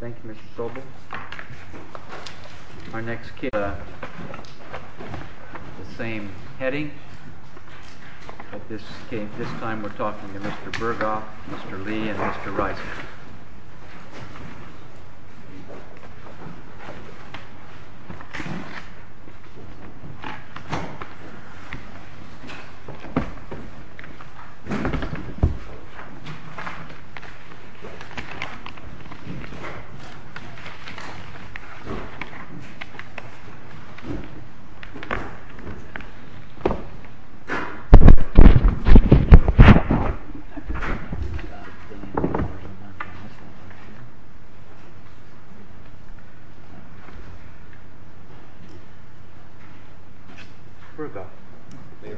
Thank you Mr. Sobel. Our next case is the same heading, but this time we're talking to Mr. Burghoff, Mr. Lee, and Mr. Reiser.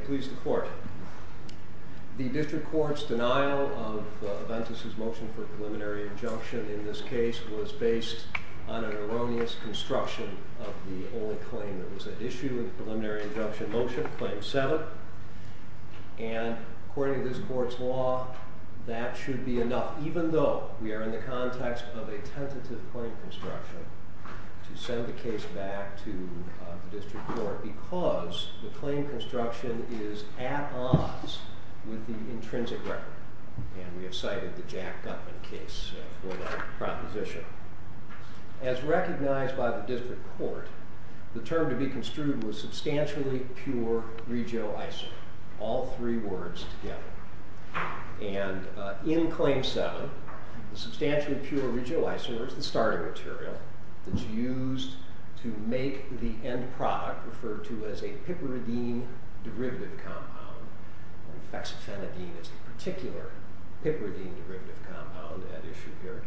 Mr. Burghoff The District Court's denial of Aventis' motion for preliminary injunction in this case was based on an erroneous construction of the only claim that was at issue with the preliminary injunction motion, Claim 7. And according to this Court's law, that should be enough, even though we are in the context of a tentative claim construction to send the case back to the District Court because the claim construction is at odds with the intrinsic record. And we have cited the Jack Gutman case for that proposition. As recognized by the District Court, the term to be construed was substantially pure regioisomer, all three words together. And in Claim 7, the substantially pure regioisomer is the starting material that's used to make the end product referred to as a piperidine derivative compound. Hexotenadine is a particular piperidine derivative compound at issue here.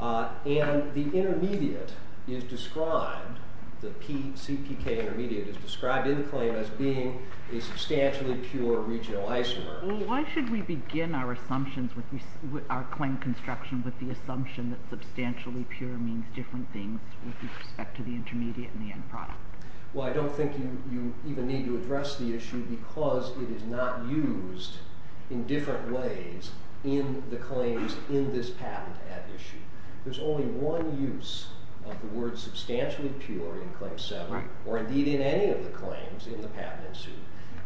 And the intermediate is described, the CPK intermediate is described in the claim as being a substantially pure regioisomer. Why should we begin our claim construction with the assumption that substantially pure means different things with respect to the intermediate and the end product? Well, I don't think you even need to address the issue because it is not used in different ways in the claims in this patent at issue. There's only one use of the word substantially pure in Claim 7, or indeed in any of the claims in the patent ensue,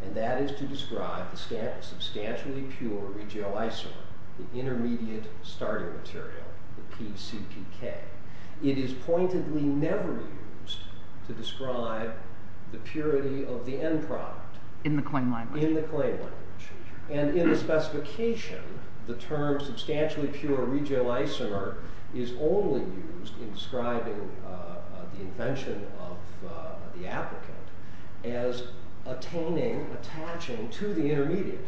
and that is to describe the substantially pure regioisomer, the intermediate starting material, the PCPK. It is pointedly never used to describe the purity of the end product. In the claim language? In the claim language. And in the specification, the term substantially pure regioisomer is only used in describing the invention of the applicant as attaining, attaching to the intermediate.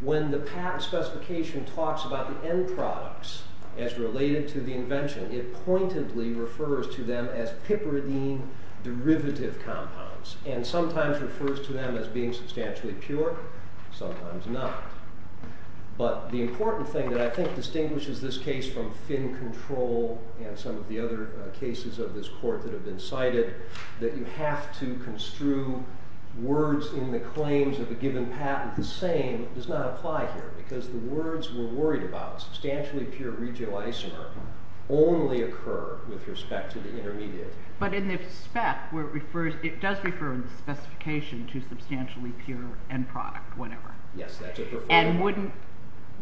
When the patent specification talks about the end products as related to the invention, it pointedly refers to them as piperidine derivative compounds, and sometimes refers to them as being substantially pure, sometimes not. But the important thing that I think distinguishes this case from Finn Control and some of the other cases of this court that have been cited, that you have to construe words in the claims of a given patent the same, does not apply here. Because the words we're worried about, substantially pure regioisomer, only occur with respect to the intermediate. But in the spec, it does refer in the specification to substantially pure end product, whatever. And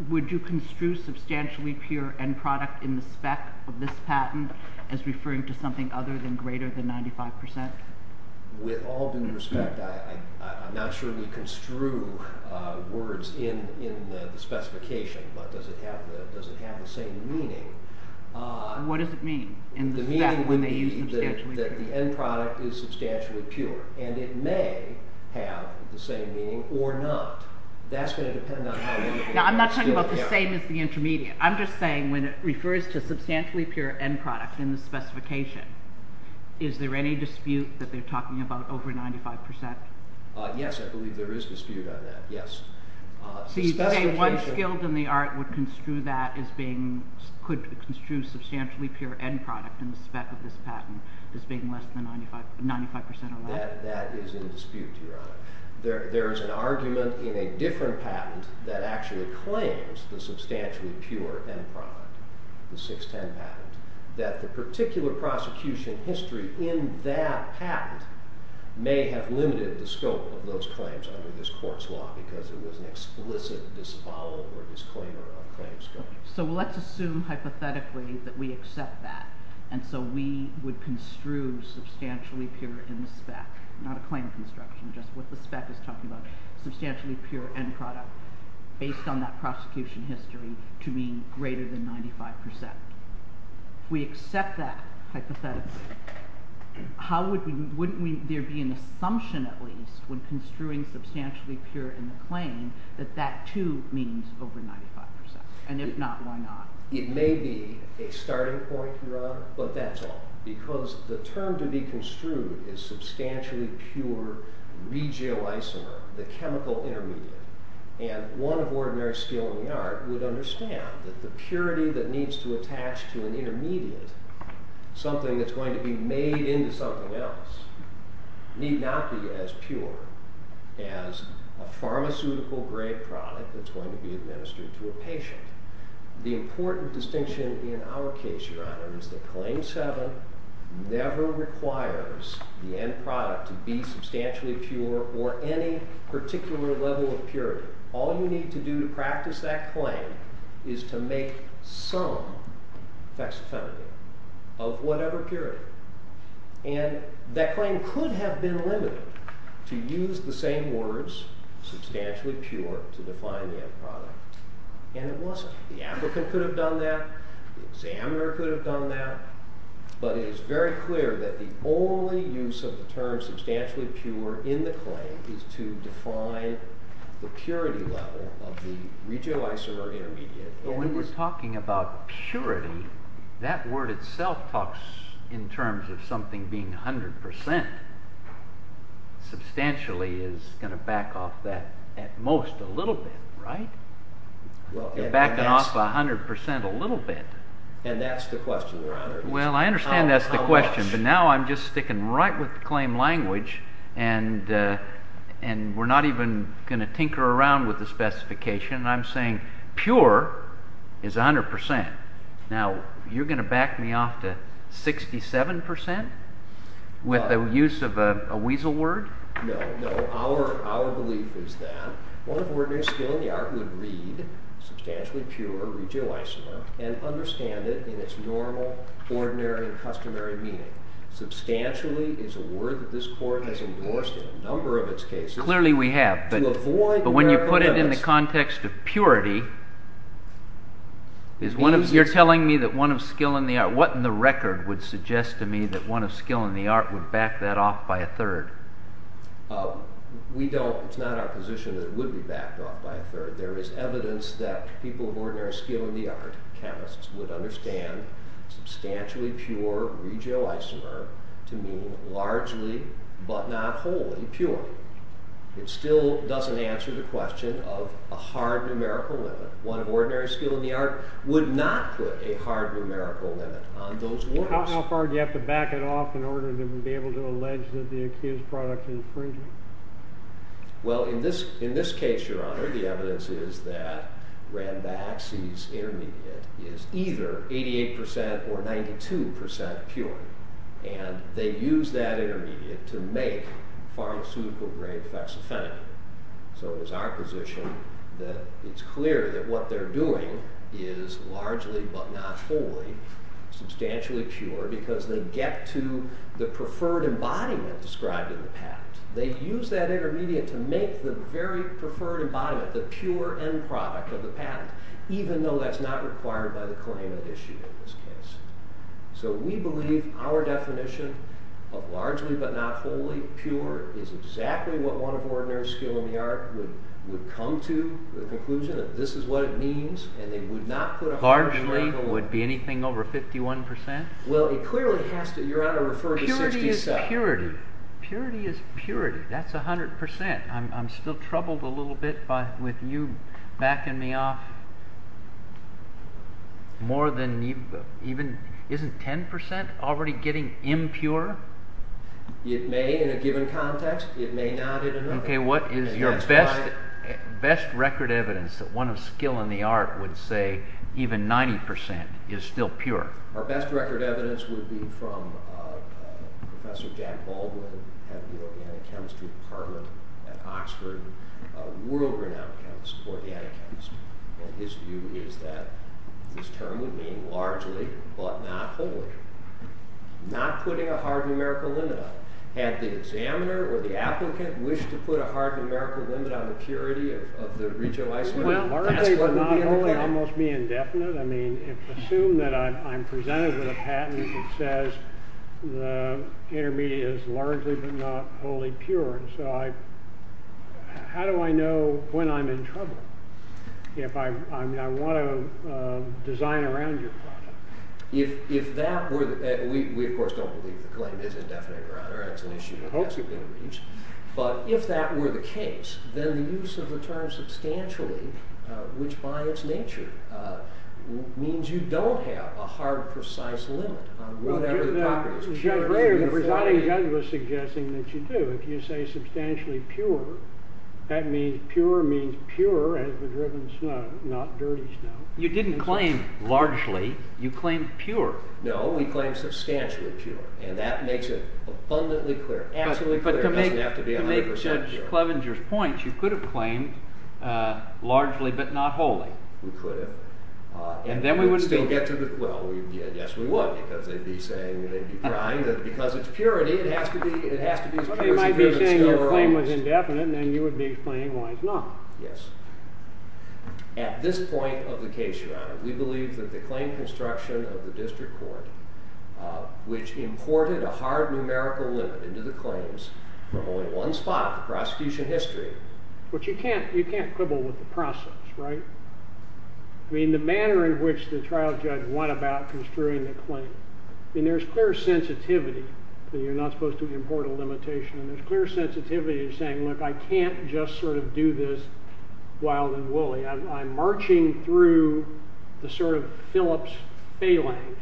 would you construe substantially pure end product in the spec of this patent as referring to something other than greater than 95%? With all due respect, I'm not sure we construe words in the specification, but does it have the same meaning? What does it mean? The meaning would be that the end product is substantially pure, and it may have the same meaning, or not. Now I'm not talking about the same as the intermediate. I'm just saying when it refers to substantially pure end product in the specification, is there any dispute that they're talking about over 95%? Yes, I believe there is dispute on that, yes. So you say one skilled in the art would construe that as being, could construe substantially pure end product in the spec of this patent as being less than 95% or less? That is in dispute, Your Honor. There is an argument in a different patent that actually claims the substantially pure end product, the 610 patent, that the particular prosecution history in that patent may have limited the scope of those claims under this court's law because it was an explicit disavowal or disclaimer of claims. So let's assume hypothetically that we accept that, and so we would construe substantially pure in the spec, not a claim construction, just what the spec is talking about. Substantially pure end product based on that prosecution history to be greater than 95%. If we accept that hypothetically, wouldn't there be an assumption at least when construing substantially pure in the claim that that too means over 95%? And if not, why not? It may be a starting point, Your Honor, but that's all. Because the term to be construed is substantially pure regioisomer, the chemical intermediate. And one of ordinary skilled in the art would understand that the purity that needs to attach to an intermediate, something that's going to be made into something else, need not be as pure as a pharmaceutical grade product that's going to be administered to a patient. The important distinction in our case, Your Honor, is that Claim 7 never requires the end product to be substantially pure or any particular level of purity. All you need to do to practice that claim is to make some hexatonic of whatever purity. And that claim could have been limited to use the same words, substantially pure, to define the end product. And it wasn't. The applicant could have done that. The examiner could have done that. But it is very clear that the only use of the term substantially pure in the claim is to define the purity level of the regioisomer intermediate. But when we're talking about purity, that word itself talks in terms of something being 100%. Substantially is going to back off that at most a little bit, right? It's backing off 100% a little bit. And that's the question, Your Honor. Well, I understand that's the question, but now I'm just sticking right with the claim language, and we're not even going to tinker around with the specification. I'm saying pure is 100%. Now, you're going to back me off to 67% with the use of a weasel word? No, no. Our belief is that one of ordinary skill in the art would read substantially pure regioisomer and understand it in its normal, ordinary, and customary meaning. Substantially is a word that this court has endorsed in a number of its cases. Clearly we have, but when you put it in the context of purity, you're telling me that one of skill in the art, what in the record would suggest to me that one of skill in the art would back that off by a third? We don't. It's not our position that it would be backed off by a third. There is evidence that people of ordinary skill in the art, chemists, would understand substantially pure regioisomer to mean largely, but not wholly, pure. It still doesn't answer the question of a hard numerical limit. One of ordinary skill in the art would not put a hard numerical limit on those words. How far do you have to back it off in order to be able to allege that the accused product is infringing? Well, in this case, your honor, the evidence is that Ranbaxy's intermediate is either 88% or 92% pure. And they use that intermediate to make pharmaceutical grade hexafenamide. So it's our position that it's clear that what they're doing is largely, but not wholly, substantially pure because they get to the preferred embodiment described in the patent. They use that intermediate to make the very preferred embodiment, the pure end product of the patent, even though that's not required by the claim of issue in this case. So we believe our definition of largely, but not wholly, pure is exactly what one of ordinary skill in the art would come to the conclusion that this is what it means, and they would not put a hard numerical limit. Largely would be anything over 51%? Well, it clearly has to, your honor, refer to 67. Purity is purity. That's 100%. I'm still troubled a little bit with you backing me off. Isn't 10% already getting impure? It may in a given context. It may not in another. Okay, what is your best record evidence that one of skill in the art would say even 90% is still pure? Our best record evidence would be from Professor Jack Baldwin at the organic chemistry department at Oxford, a world-renowned chemist, organic chemist. And his view is that this term would mean largely, but not wholly. Not putting a hard numerical limit on it. Had the examiner or the applicant wished to put a hard numerical limit on the purity of the regio-isomer? Largely, but not wholly, almost be indefinite? Assume that I'm presented with a patent that says the intermediate is largely, but not wholly, pure. How do I know when I'm in trouble if I want to design around your product? If that were the case, then the use of the term substantially, which by its nature means you don't have a hard, precise limit. The presiding judge was suggesting that you do. If you say substantially pure, that means pure means pure as the driven snow, not dirty snow. You didn't claim largely. You claimed pure. No, we claimed substantially pure. And that makes it abundantly clear. But to make Judge Clevenger's point, you could have claimed largely, but not wholly. We could have. And then we would still get to the, well, yes we would, because they'd be saying, they'd be crying, that because it's purity, it has to be as pure as it is. They might be saying your claim was indefinite, and then you would be explaining why it's not. Yes. At this point of the case, Your Honor, we believe that the claim construction of the district court, which imported a hard numerical limit into the claims from only one spot in the prosecution history. But you can't quibble with the process, right? I mean, the manner in which the trial judge went about construing the claim. I mean, there's clear sensitivity that you're not supposed to import a limitation, and there's clear sensitivity to saying, look, I can't just sort of do this wild and woolly. I'm marching through the sort of Phillips phalanx,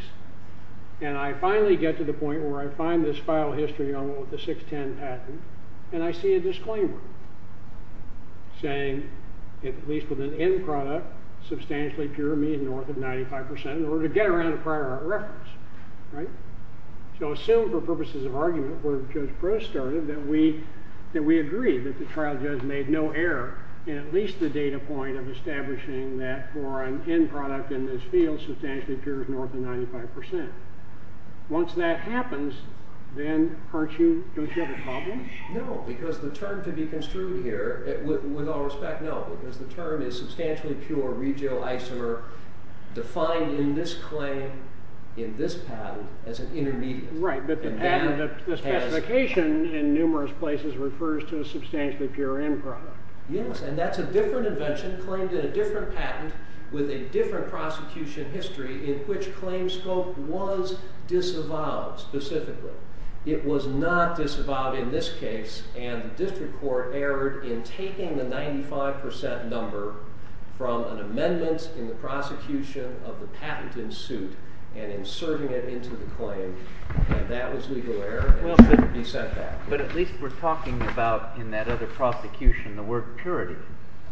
and I finally get to the point where I find this file history on the 610 patent, and I see a disclaimer saying, at least with an end product, substantially pure means north of 95% in order to get around a prior reference, right? So assume for purposes of argument, where Judge Proulx started, that we agree that the trial judge made no error in at least the data point of establishing that for an end product in this field, substantially pure is north of 95%. Once that happens, then don't you have a problem? No, because the term to be construed here, with all respect, no. Because the term is substantially pure regio isomer defined in this claim, in this patent, as an intermediate. Right, but the patent specification in numerous places refers to a substantially pure end product. Yes, and that's a different invention claimed in a different patent with a different prosecution history in which claim scope was disavowed specifically. It was not disavowed in this case, and the district court erred in taking the 95% number from an amendment in the prosecution of the patent in suit and inserting it into the claim. And that was legal error, and it shouldn't be sent back. But at least we're talking about, in that other prosecution, the word purity.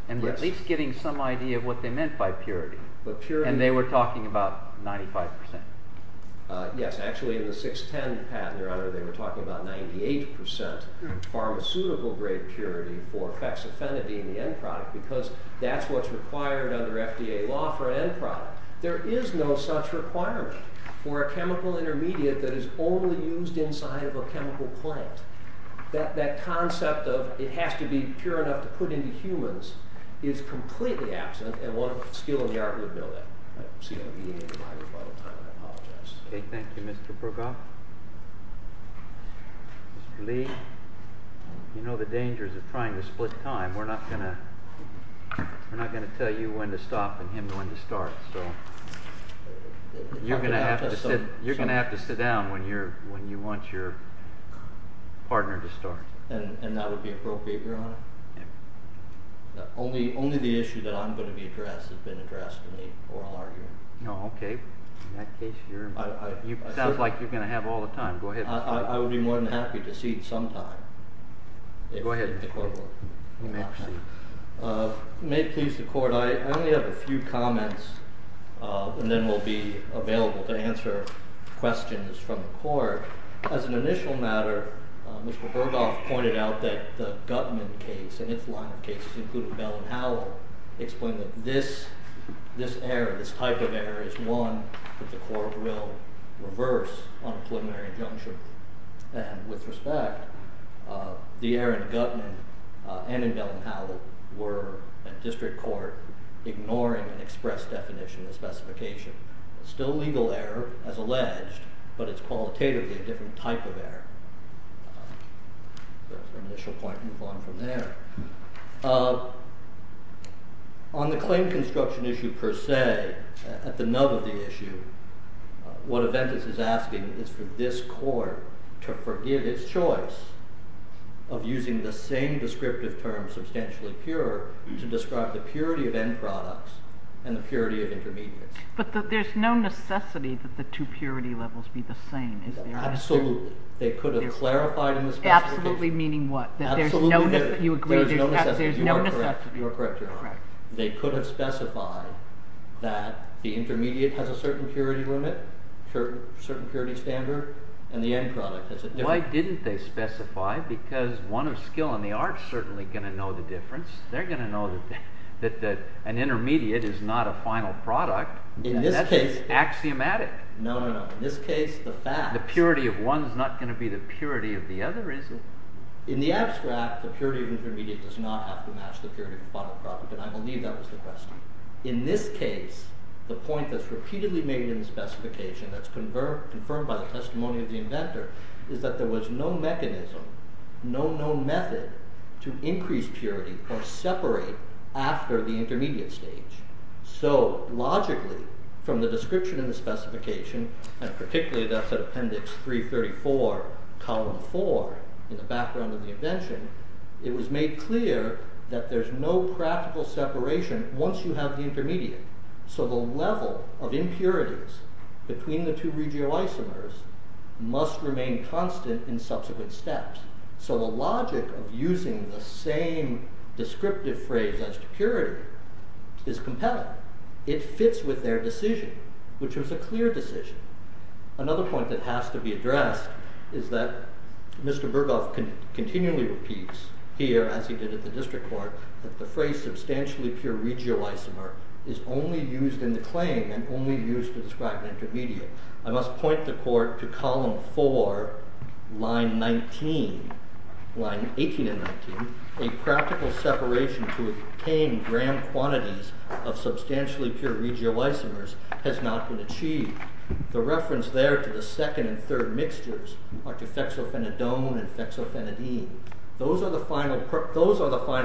And at least getting some idea of what they meant by purity. And they were talking about 95%. Yes, actually in the 610 patent, your honor, they were talking about 98% pharmaceutical-grade purity for hexafenidine, the end product. Because that's what's required under FDA law for an end product. There is no such requirement for a chemical intermediate that is only used inside of a chemical plant. That concept of it has to be pure enough to put into humans is completely absent, and one skill in the art would know that. I apologize. Thank you, Mr. Prokop. Mr. Lee, you know the dangers of trying to split time. We're not going to tell you when to stop and him when to start. So you're going to have to sit down when you want your partner to start. And that would be appropriate, your honor? Yes. Only the issue that I'm going to be addressed has been addressed to me, or I'll argue. No, OK. In that case, it sounds like you're going to have all the time. Go ahead. I would be more than happy to cede some time. Go ahead. You may proceed. It may please the court. I only have a few comments, and then we'll be available to answer questions from the court. As an initial matter, Mr. Berghoff pointed out that the Gutman case and its line of cases, including Bell and Howell, explained that this error, this type of error, is one that the court will reverse on a preliminary injunction. And with respect, the error in Gutman and in Bell and Howell were, at district court, ignoring an express definition, a specification. Still legal error, as alleged, but it's qualitatively a different type of error. That's an initial point. Move on from there. On the claim construction issue per se, at the nub of the issue, what Aventis is asking is for this court to forgive its choice of using the same descriptive term, to describe the purity of end products and the purity of intermediates. But there's no necessity that the two purity levels be the same, is there? Absolutely. They could have clarified in the specification. Absolutely meaning what? There's no necessity. You're correct. You're correct, Your Honor. They could have specified that the intermediate has a certain purity limit, certain purity standard, and the end product has a different. Why didn't they specify? Because one of skill and the art is certainly going to know the difference. They're going to know that an intermediate is not a final product. In this case. And that's axiomatic. No, no, no. In this case, the fact. The purity of one is not going to be the purity of the other, is it? In the abstract, the purity of intermediate does not have to match the purity of the final product, and I believe that was the question. In this case, the point that's repeatedly made in the specification that's confirmed by the testimony of the inventor is that there was no mechanism, no known method to increase purity or separate after the intermediate stage. So logically, from the description in the specification, and particularly that's at appendix 334, column 4, in the background of the invention, it was made clear that there's no practical separation once you have the intermediate. So the level of impurities between the two regioisomers must remain constant in subsequent steps. So the logic of using the same descriptive phrase as to purity is compelling. It fits with their decision, which was a clear decision. Another point that has to be addressed is that Mr. Berghoff continually repeats here, as he did at the district court, that the phrase substantially pure regioisomer is only used in the claim and only used to describe an intermediate. I must point the court to column 4, line 18 and 19. A practical separation to obtain grand quantities of substantially pure regioisomers has not been achieved. The reference there to the second and third mixtures are to fexophenidone and fexophenidine. Those are the final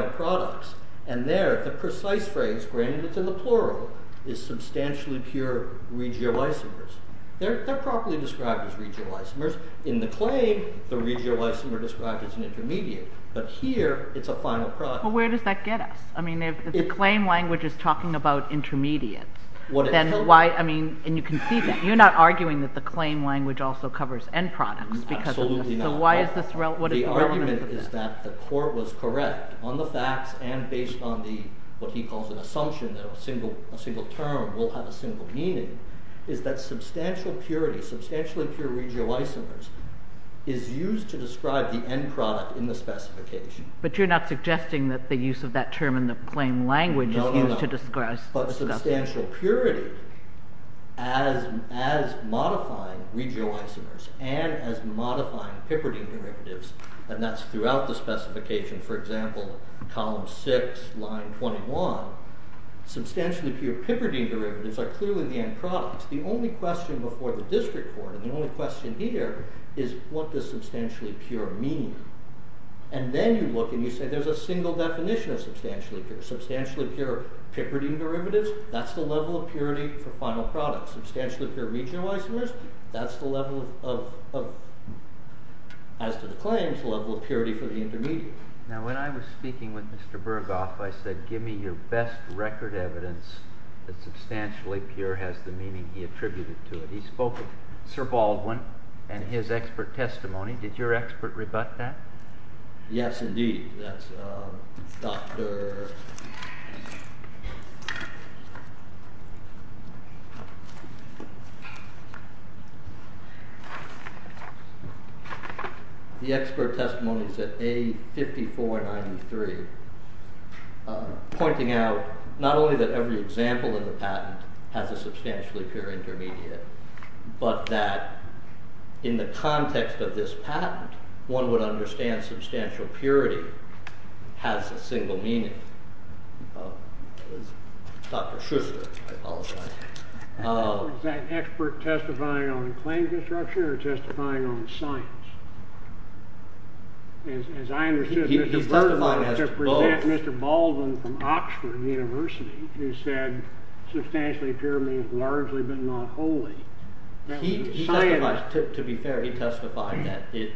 products. And there, the precise phrase, granted it's in the plural, is substantially pure regioisomers. They're properly described as regioisomers. In the claim, the regioisomers are described as an intermediate. But here, it's a final product. But where does that get us? I mean, if the claim language is talking about intermediates, then why, I mean, and you can see that. You're not arguing that the claim language also covers end products. Absolutely not. So why is this relevant? The argument is that the court was correct on the facts and based on the, what he calls an assumption, that a single term will have a single meaning, is that substantial purity, substantially pure regioisomers, is used to describe the end product in the specification. But you're not suggesting that the use of that term in the claim language is used to describe. But substantial purity as modifying regioisomers and as modifying Pipperdine derivatives, and that's throughout the specification, for example, column 6, line 21, substantially pure Pipperdine derivatives are clearly the end products. The only question before the district court, and the only question here, is what does substantially pure mean? And then you look and you say there's a single definition of substantially pure. Substantially pure Pipperdine derivatives, that's the level of purity for final products. Substantially pure regioisomers, that's the level of, as to the claims, level of purity for the intermediate. Now when I was speaking with Mr. Burghoff, I said give me your best record evidence that substantially pure has the meaning he attributed to it. He spoke of Sir Baldwin and his expert testimony. Did your expert rebut that? Yes, indeed. The expert testimony is at A5493, pointing out not only that every example in the patent has a substantially pure intermediate, but that in the context of this patent, one would understand substantial purity has a single meaning. Dr. Schuster, I apologize. Was that expert testifying on claim construction or testifying on science? As I understood, Mr. Burghoff was to present Mr. Baldwin from Oxford University, who said substantially pure means largely but not wholly. He testified, to be fair, he testified that it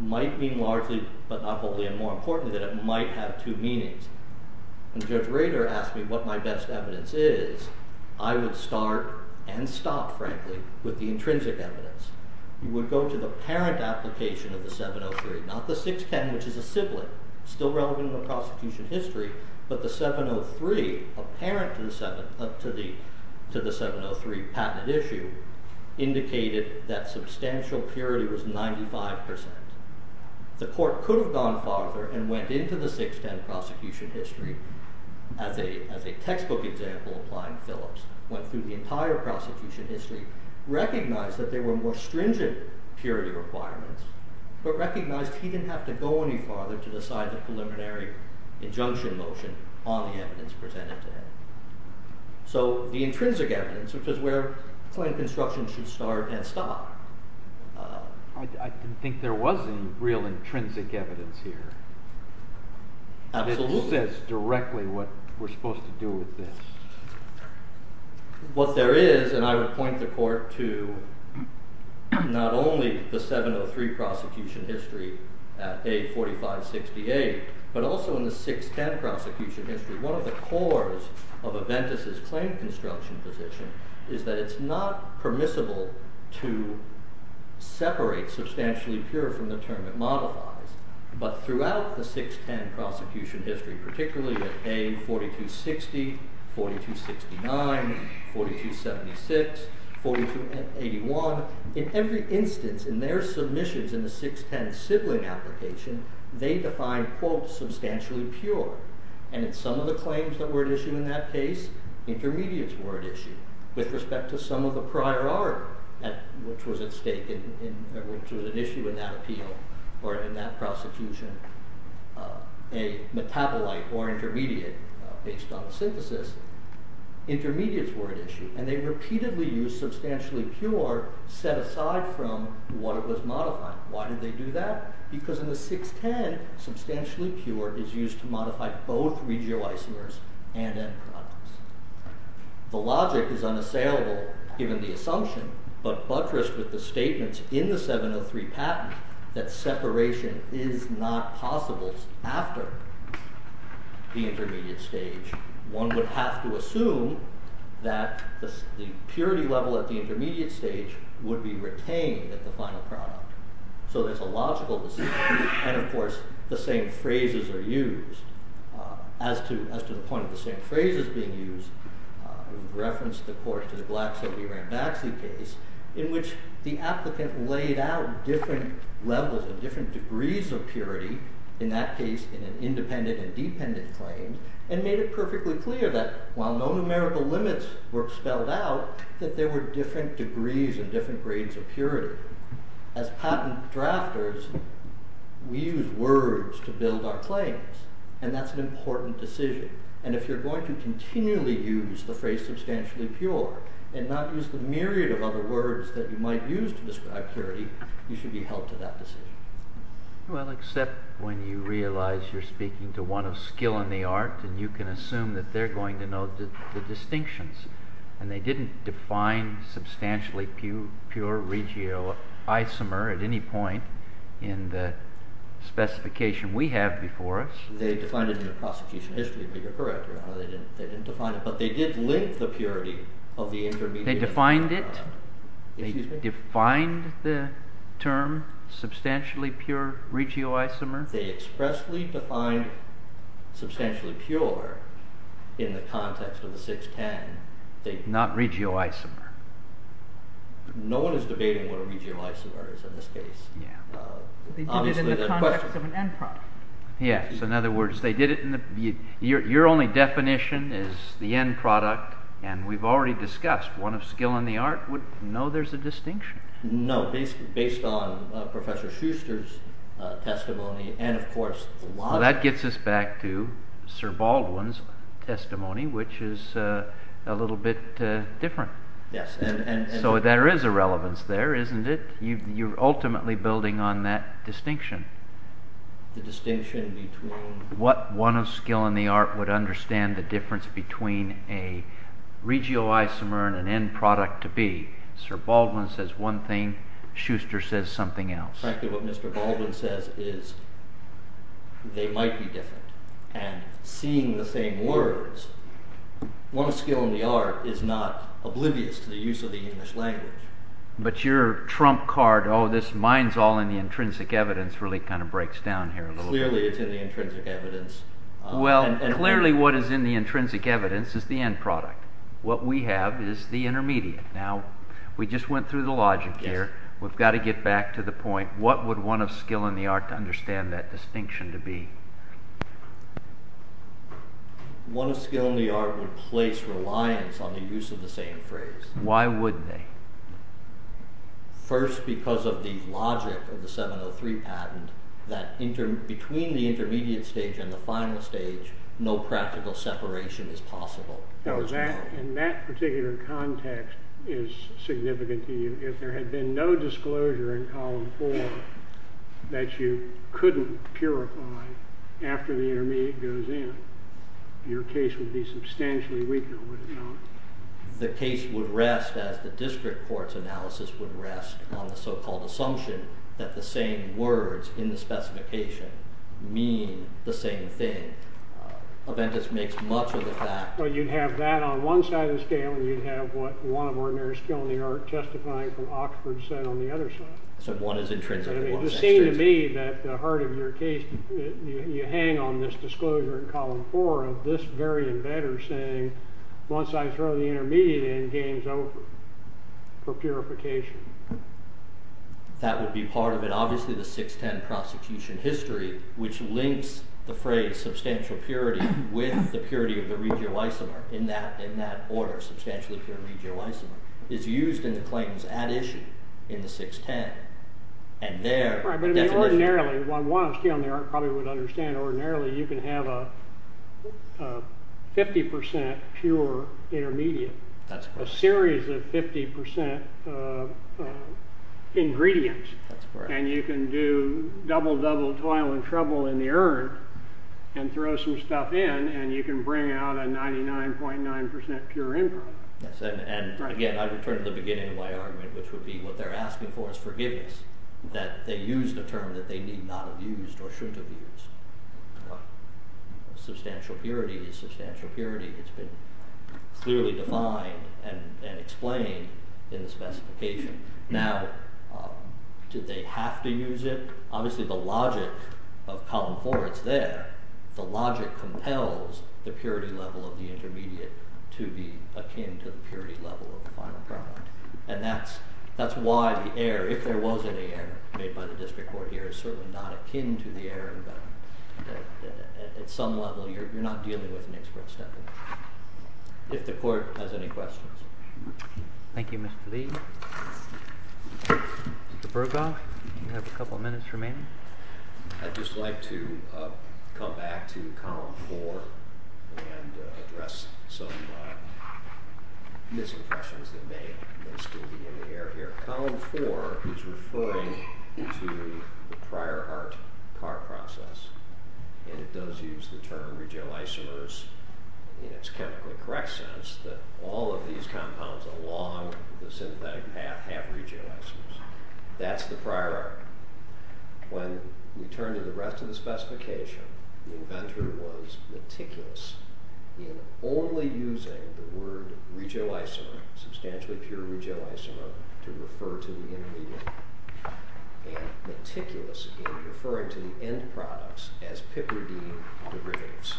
might mean largely but not wholly, and more importantly, that it might have two meanings. When Judge Rader asked me what my best evidence is, I would start and stop, frankly, with the intrinsic evidence. You would go to the parent application of the 703, not the 610, which is a sibling, still relevant in the prosecution history, but the 703, a parent to the 703 patent issue, indicated that substantial purity was 95%. The court could have gone farther and went into the 610 prosecution history, as a textbook example applying Phillips, went through the entire prosecution history, recognized that there were more stringent purity requirements, but recognized he didn't have to go any farther to decide the preliminary injunction motion on the evidence presented today. So the intrinsic evidence, which is where claim construction should start and stop. I didn't think there was any real intrinsic evidence here. Absolutely. It just says directly what we're supposed to do with this. What there is, and I would point the court to not only the 703 prosecution history at A4568, but also in the 610 prosecution history, one of the cores of Aventis' claim construction position is that it's not permissible to separate substantially pure from the term it modifies, but throughout the 610 prosecution history, particularly at A4260, 4269, 4276, 4281, in every instance in their submissions in the 610 sibling application, they define quote substantially pure. And in some of the claims that were issued in that case, intermediates were at issue. With respect to some of the prior art, which was at stake, which was at issue in that appeal, or in that prosecution, a metabolite or intermediate based on the synthesis, intermediates were at issue. And they repeatedly used substantially pure set aside from what it was modified. Why did they do that? Because in the 610, substantially pure is used to modify both regio isomers and end products. The logic is unassailable given the assumption, but buttressed with the statements in the 703 patent that separation is not possible after the intermediate stage. One would have to assume that the purity level at the intermediate stage would be retained at the final product. So it's a logical decision, and of course the same phrases are used. As to the point of the same phrases being used, reference of course to the Black-Sylvie-Ranbaxy case, in which the applicant laid out different levels and different degrees of purity, in that case in an independent and dependent claim, and made it perfectly clear that while no numerical limits were spelled out, that there were different degrees and different grades of purity. As patent drafters, we use words to build our claims, and that's an important decision. And if you're going to continually use the phrase substantially pure, and not use the myriad of other words that you might use to describe purity, you should be held to that decision. Well, except when you realize you're speaking to one of skill in the art, and you can assume that they're going to know the distinctions, and they didn't define substantially pure regio isomer at any point in the specification we have before us. They defined it in the prosecution history, but you're correct, Your Honor, they didn't define it. But they did link the purity of the intermediate. They defined it? They defined the term substantially pure regio isomer? They expressly defined substantially pure in the context of the 610. Not regio isomer. No one is debating what a regio isomer is in this case. They did it in the context of an end product. Yes, in other words, your only definition is the end product, and we've already discussed, one of skill in the art would know there's a distinction. No, based on Professor Schuster's testimony, and of course... That gets us back to Sir Baldwin's testimony, which is a little bit different. Yes. So there is a relevance there, isn't it? You're ultimately building on that distinction. The distinction between... What one of skill in the art would understand the difference between a regio isomer and an end product to be. Sir Baldwin says one thing, Schuster says something else. Frankly, what Mr. Baldwin says is they might be different. And seeing the same words, one of skill in the art is not oblivious to the use of the English language. But your trump card, oh, this mind's all in the intrinsic evidence, really kind of breaks down here a little bit. Clearly it's in the intrinsic evidence. Well, clearly what is in the intrinsic evidence is the end product. What we have is the intermediate. Now, we just went through the logic here, we've got to get back to the point. What would one of skill in the art understand that distinction to be? One of skill in the art would place reliance on the use of the same phrase. Why would they? First, because of the logic of the 703 patent, that between the intermediate stage and the final stage, no practical separation is possible. And that particular context is significant to you. If there had been no disclosure in column four that you couldn't purify after the intermediate goes in, your case would be substantially weaker, would it not? The case would rest, as the district court's analysis would rest, on the so-called assumption that the same words in the specification mean the same thing. Aventis makes much of it that. Well, you'd have that on one side of the scale and you'd have what one of ordinary skill in the art testifying from Oxford said on the other side. So one is intrinsic and one is extrinsic. It would seem to me that the heart of your case, you hang on this disclosure in column four of this very embedder saying, once I throw the intermediate in, game's over for purification. That would be part of it. Obviously, the 610 prosecution history, which links the phrase substantial purity with the purity of the regio isomer in that order, substantially pure regio isomer, is used in the claims at issue in the 610. Right, but ordinarily, one would probably understand ordinarily you can have a 50% pure intermediate. That's correct. A series of 50% ingredients. That's correct. And you can do double, double toil and trouble in the urn and throw some stuff in and you can bring out a 99.9% pure improv. And again, I would turn to the beginning of my argument, which would be what they're asking for is forgiveness. That they used a term that they need not have used or shouldn't have used. Substantial purity is substantial purity. It's been clearly defined and explained in the specification. Now, do they have to use it? Obviously, the logic of column 4, it's there. The logic compels the purity level of the intermediate to be akin to the purity level of the final product. And that's why the error, if there was any error made by the district court here, is certainly not akin to the error. At some level, you're not dealing with an expert step. If the court has any questions. Thank you, Mr. Lee. Mr. Bergo, you have a couple of minutes remaining. I'd just like to come back to column 4 and address some misimpressions that may still be in the air here. Column 4 is referring to the prior heart process. And it does use the term regioisomers in its chemically correct sense that all of these compounds along the synthetic path have regioisomers. That's the prior heart. When we turn to the rest of the specification, the inventor was meticulous in only using the word regioisomer, substantially pure regioisomer, to refer to the intermediate. And meticulous in referring to the end products as PIPRD derivatives.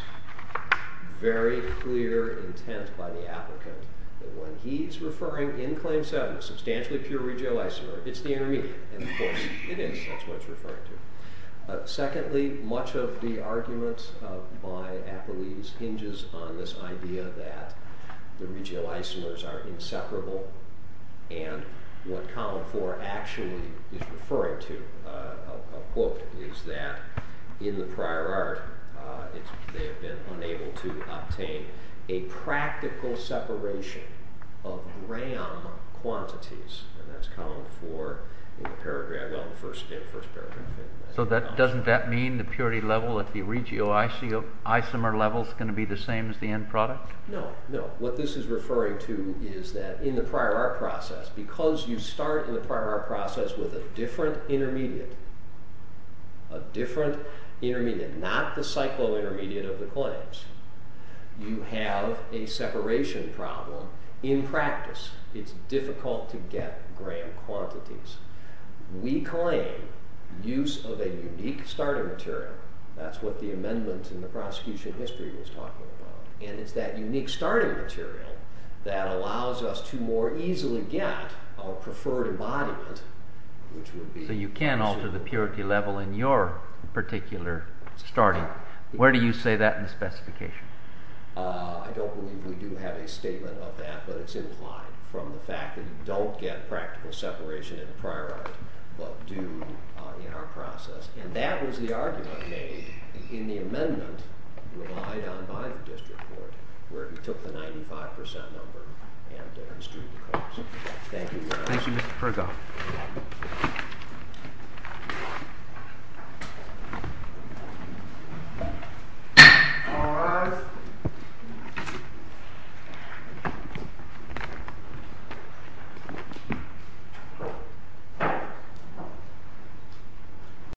Very clear intent by the applicant that when he's referring, in claim 7, substantially pure regioisomer, it's the intermediate. And, of course, it is. That's what it's referring to. Secondly, much of the argument by Apolyse hinges on this idea that the regioisomers are inseparable. And what column 4 actually is referring to, a quote, is that in the prior heart, they have been unable to obtain a practical separation of gram quantities. And that's column 4 in the first paragraph. So doesn't that mean the purity level at the regioisomer level is going to be the same as the end product? No, no. What this is referring to is that in the prior heart process, because you start in the prior heart process with a different intermediate, a different intermediate, not the cyclointermediate of the claims, you have a separation problem in practice. It's difficult to get gram quantities. We claim use of a unique starting material. That's what the amendment in the prosecution history was talking about. And it's that unique starting material that allows us to more easily get our preferred embodiment. So you can alter the purity level in your particular starting. Where do you say that in the specification? I don't believe we do have a statement of that, but it's implied from the fact that you don't get practical separation in the prior heart, but do in our process. And that was the argument made in the amendment relied on by the district court, where he took the 95% number and extruded the course. Thank you, Your Honor. Thank you, Mr. Perkoff. Thank you, Your Honor.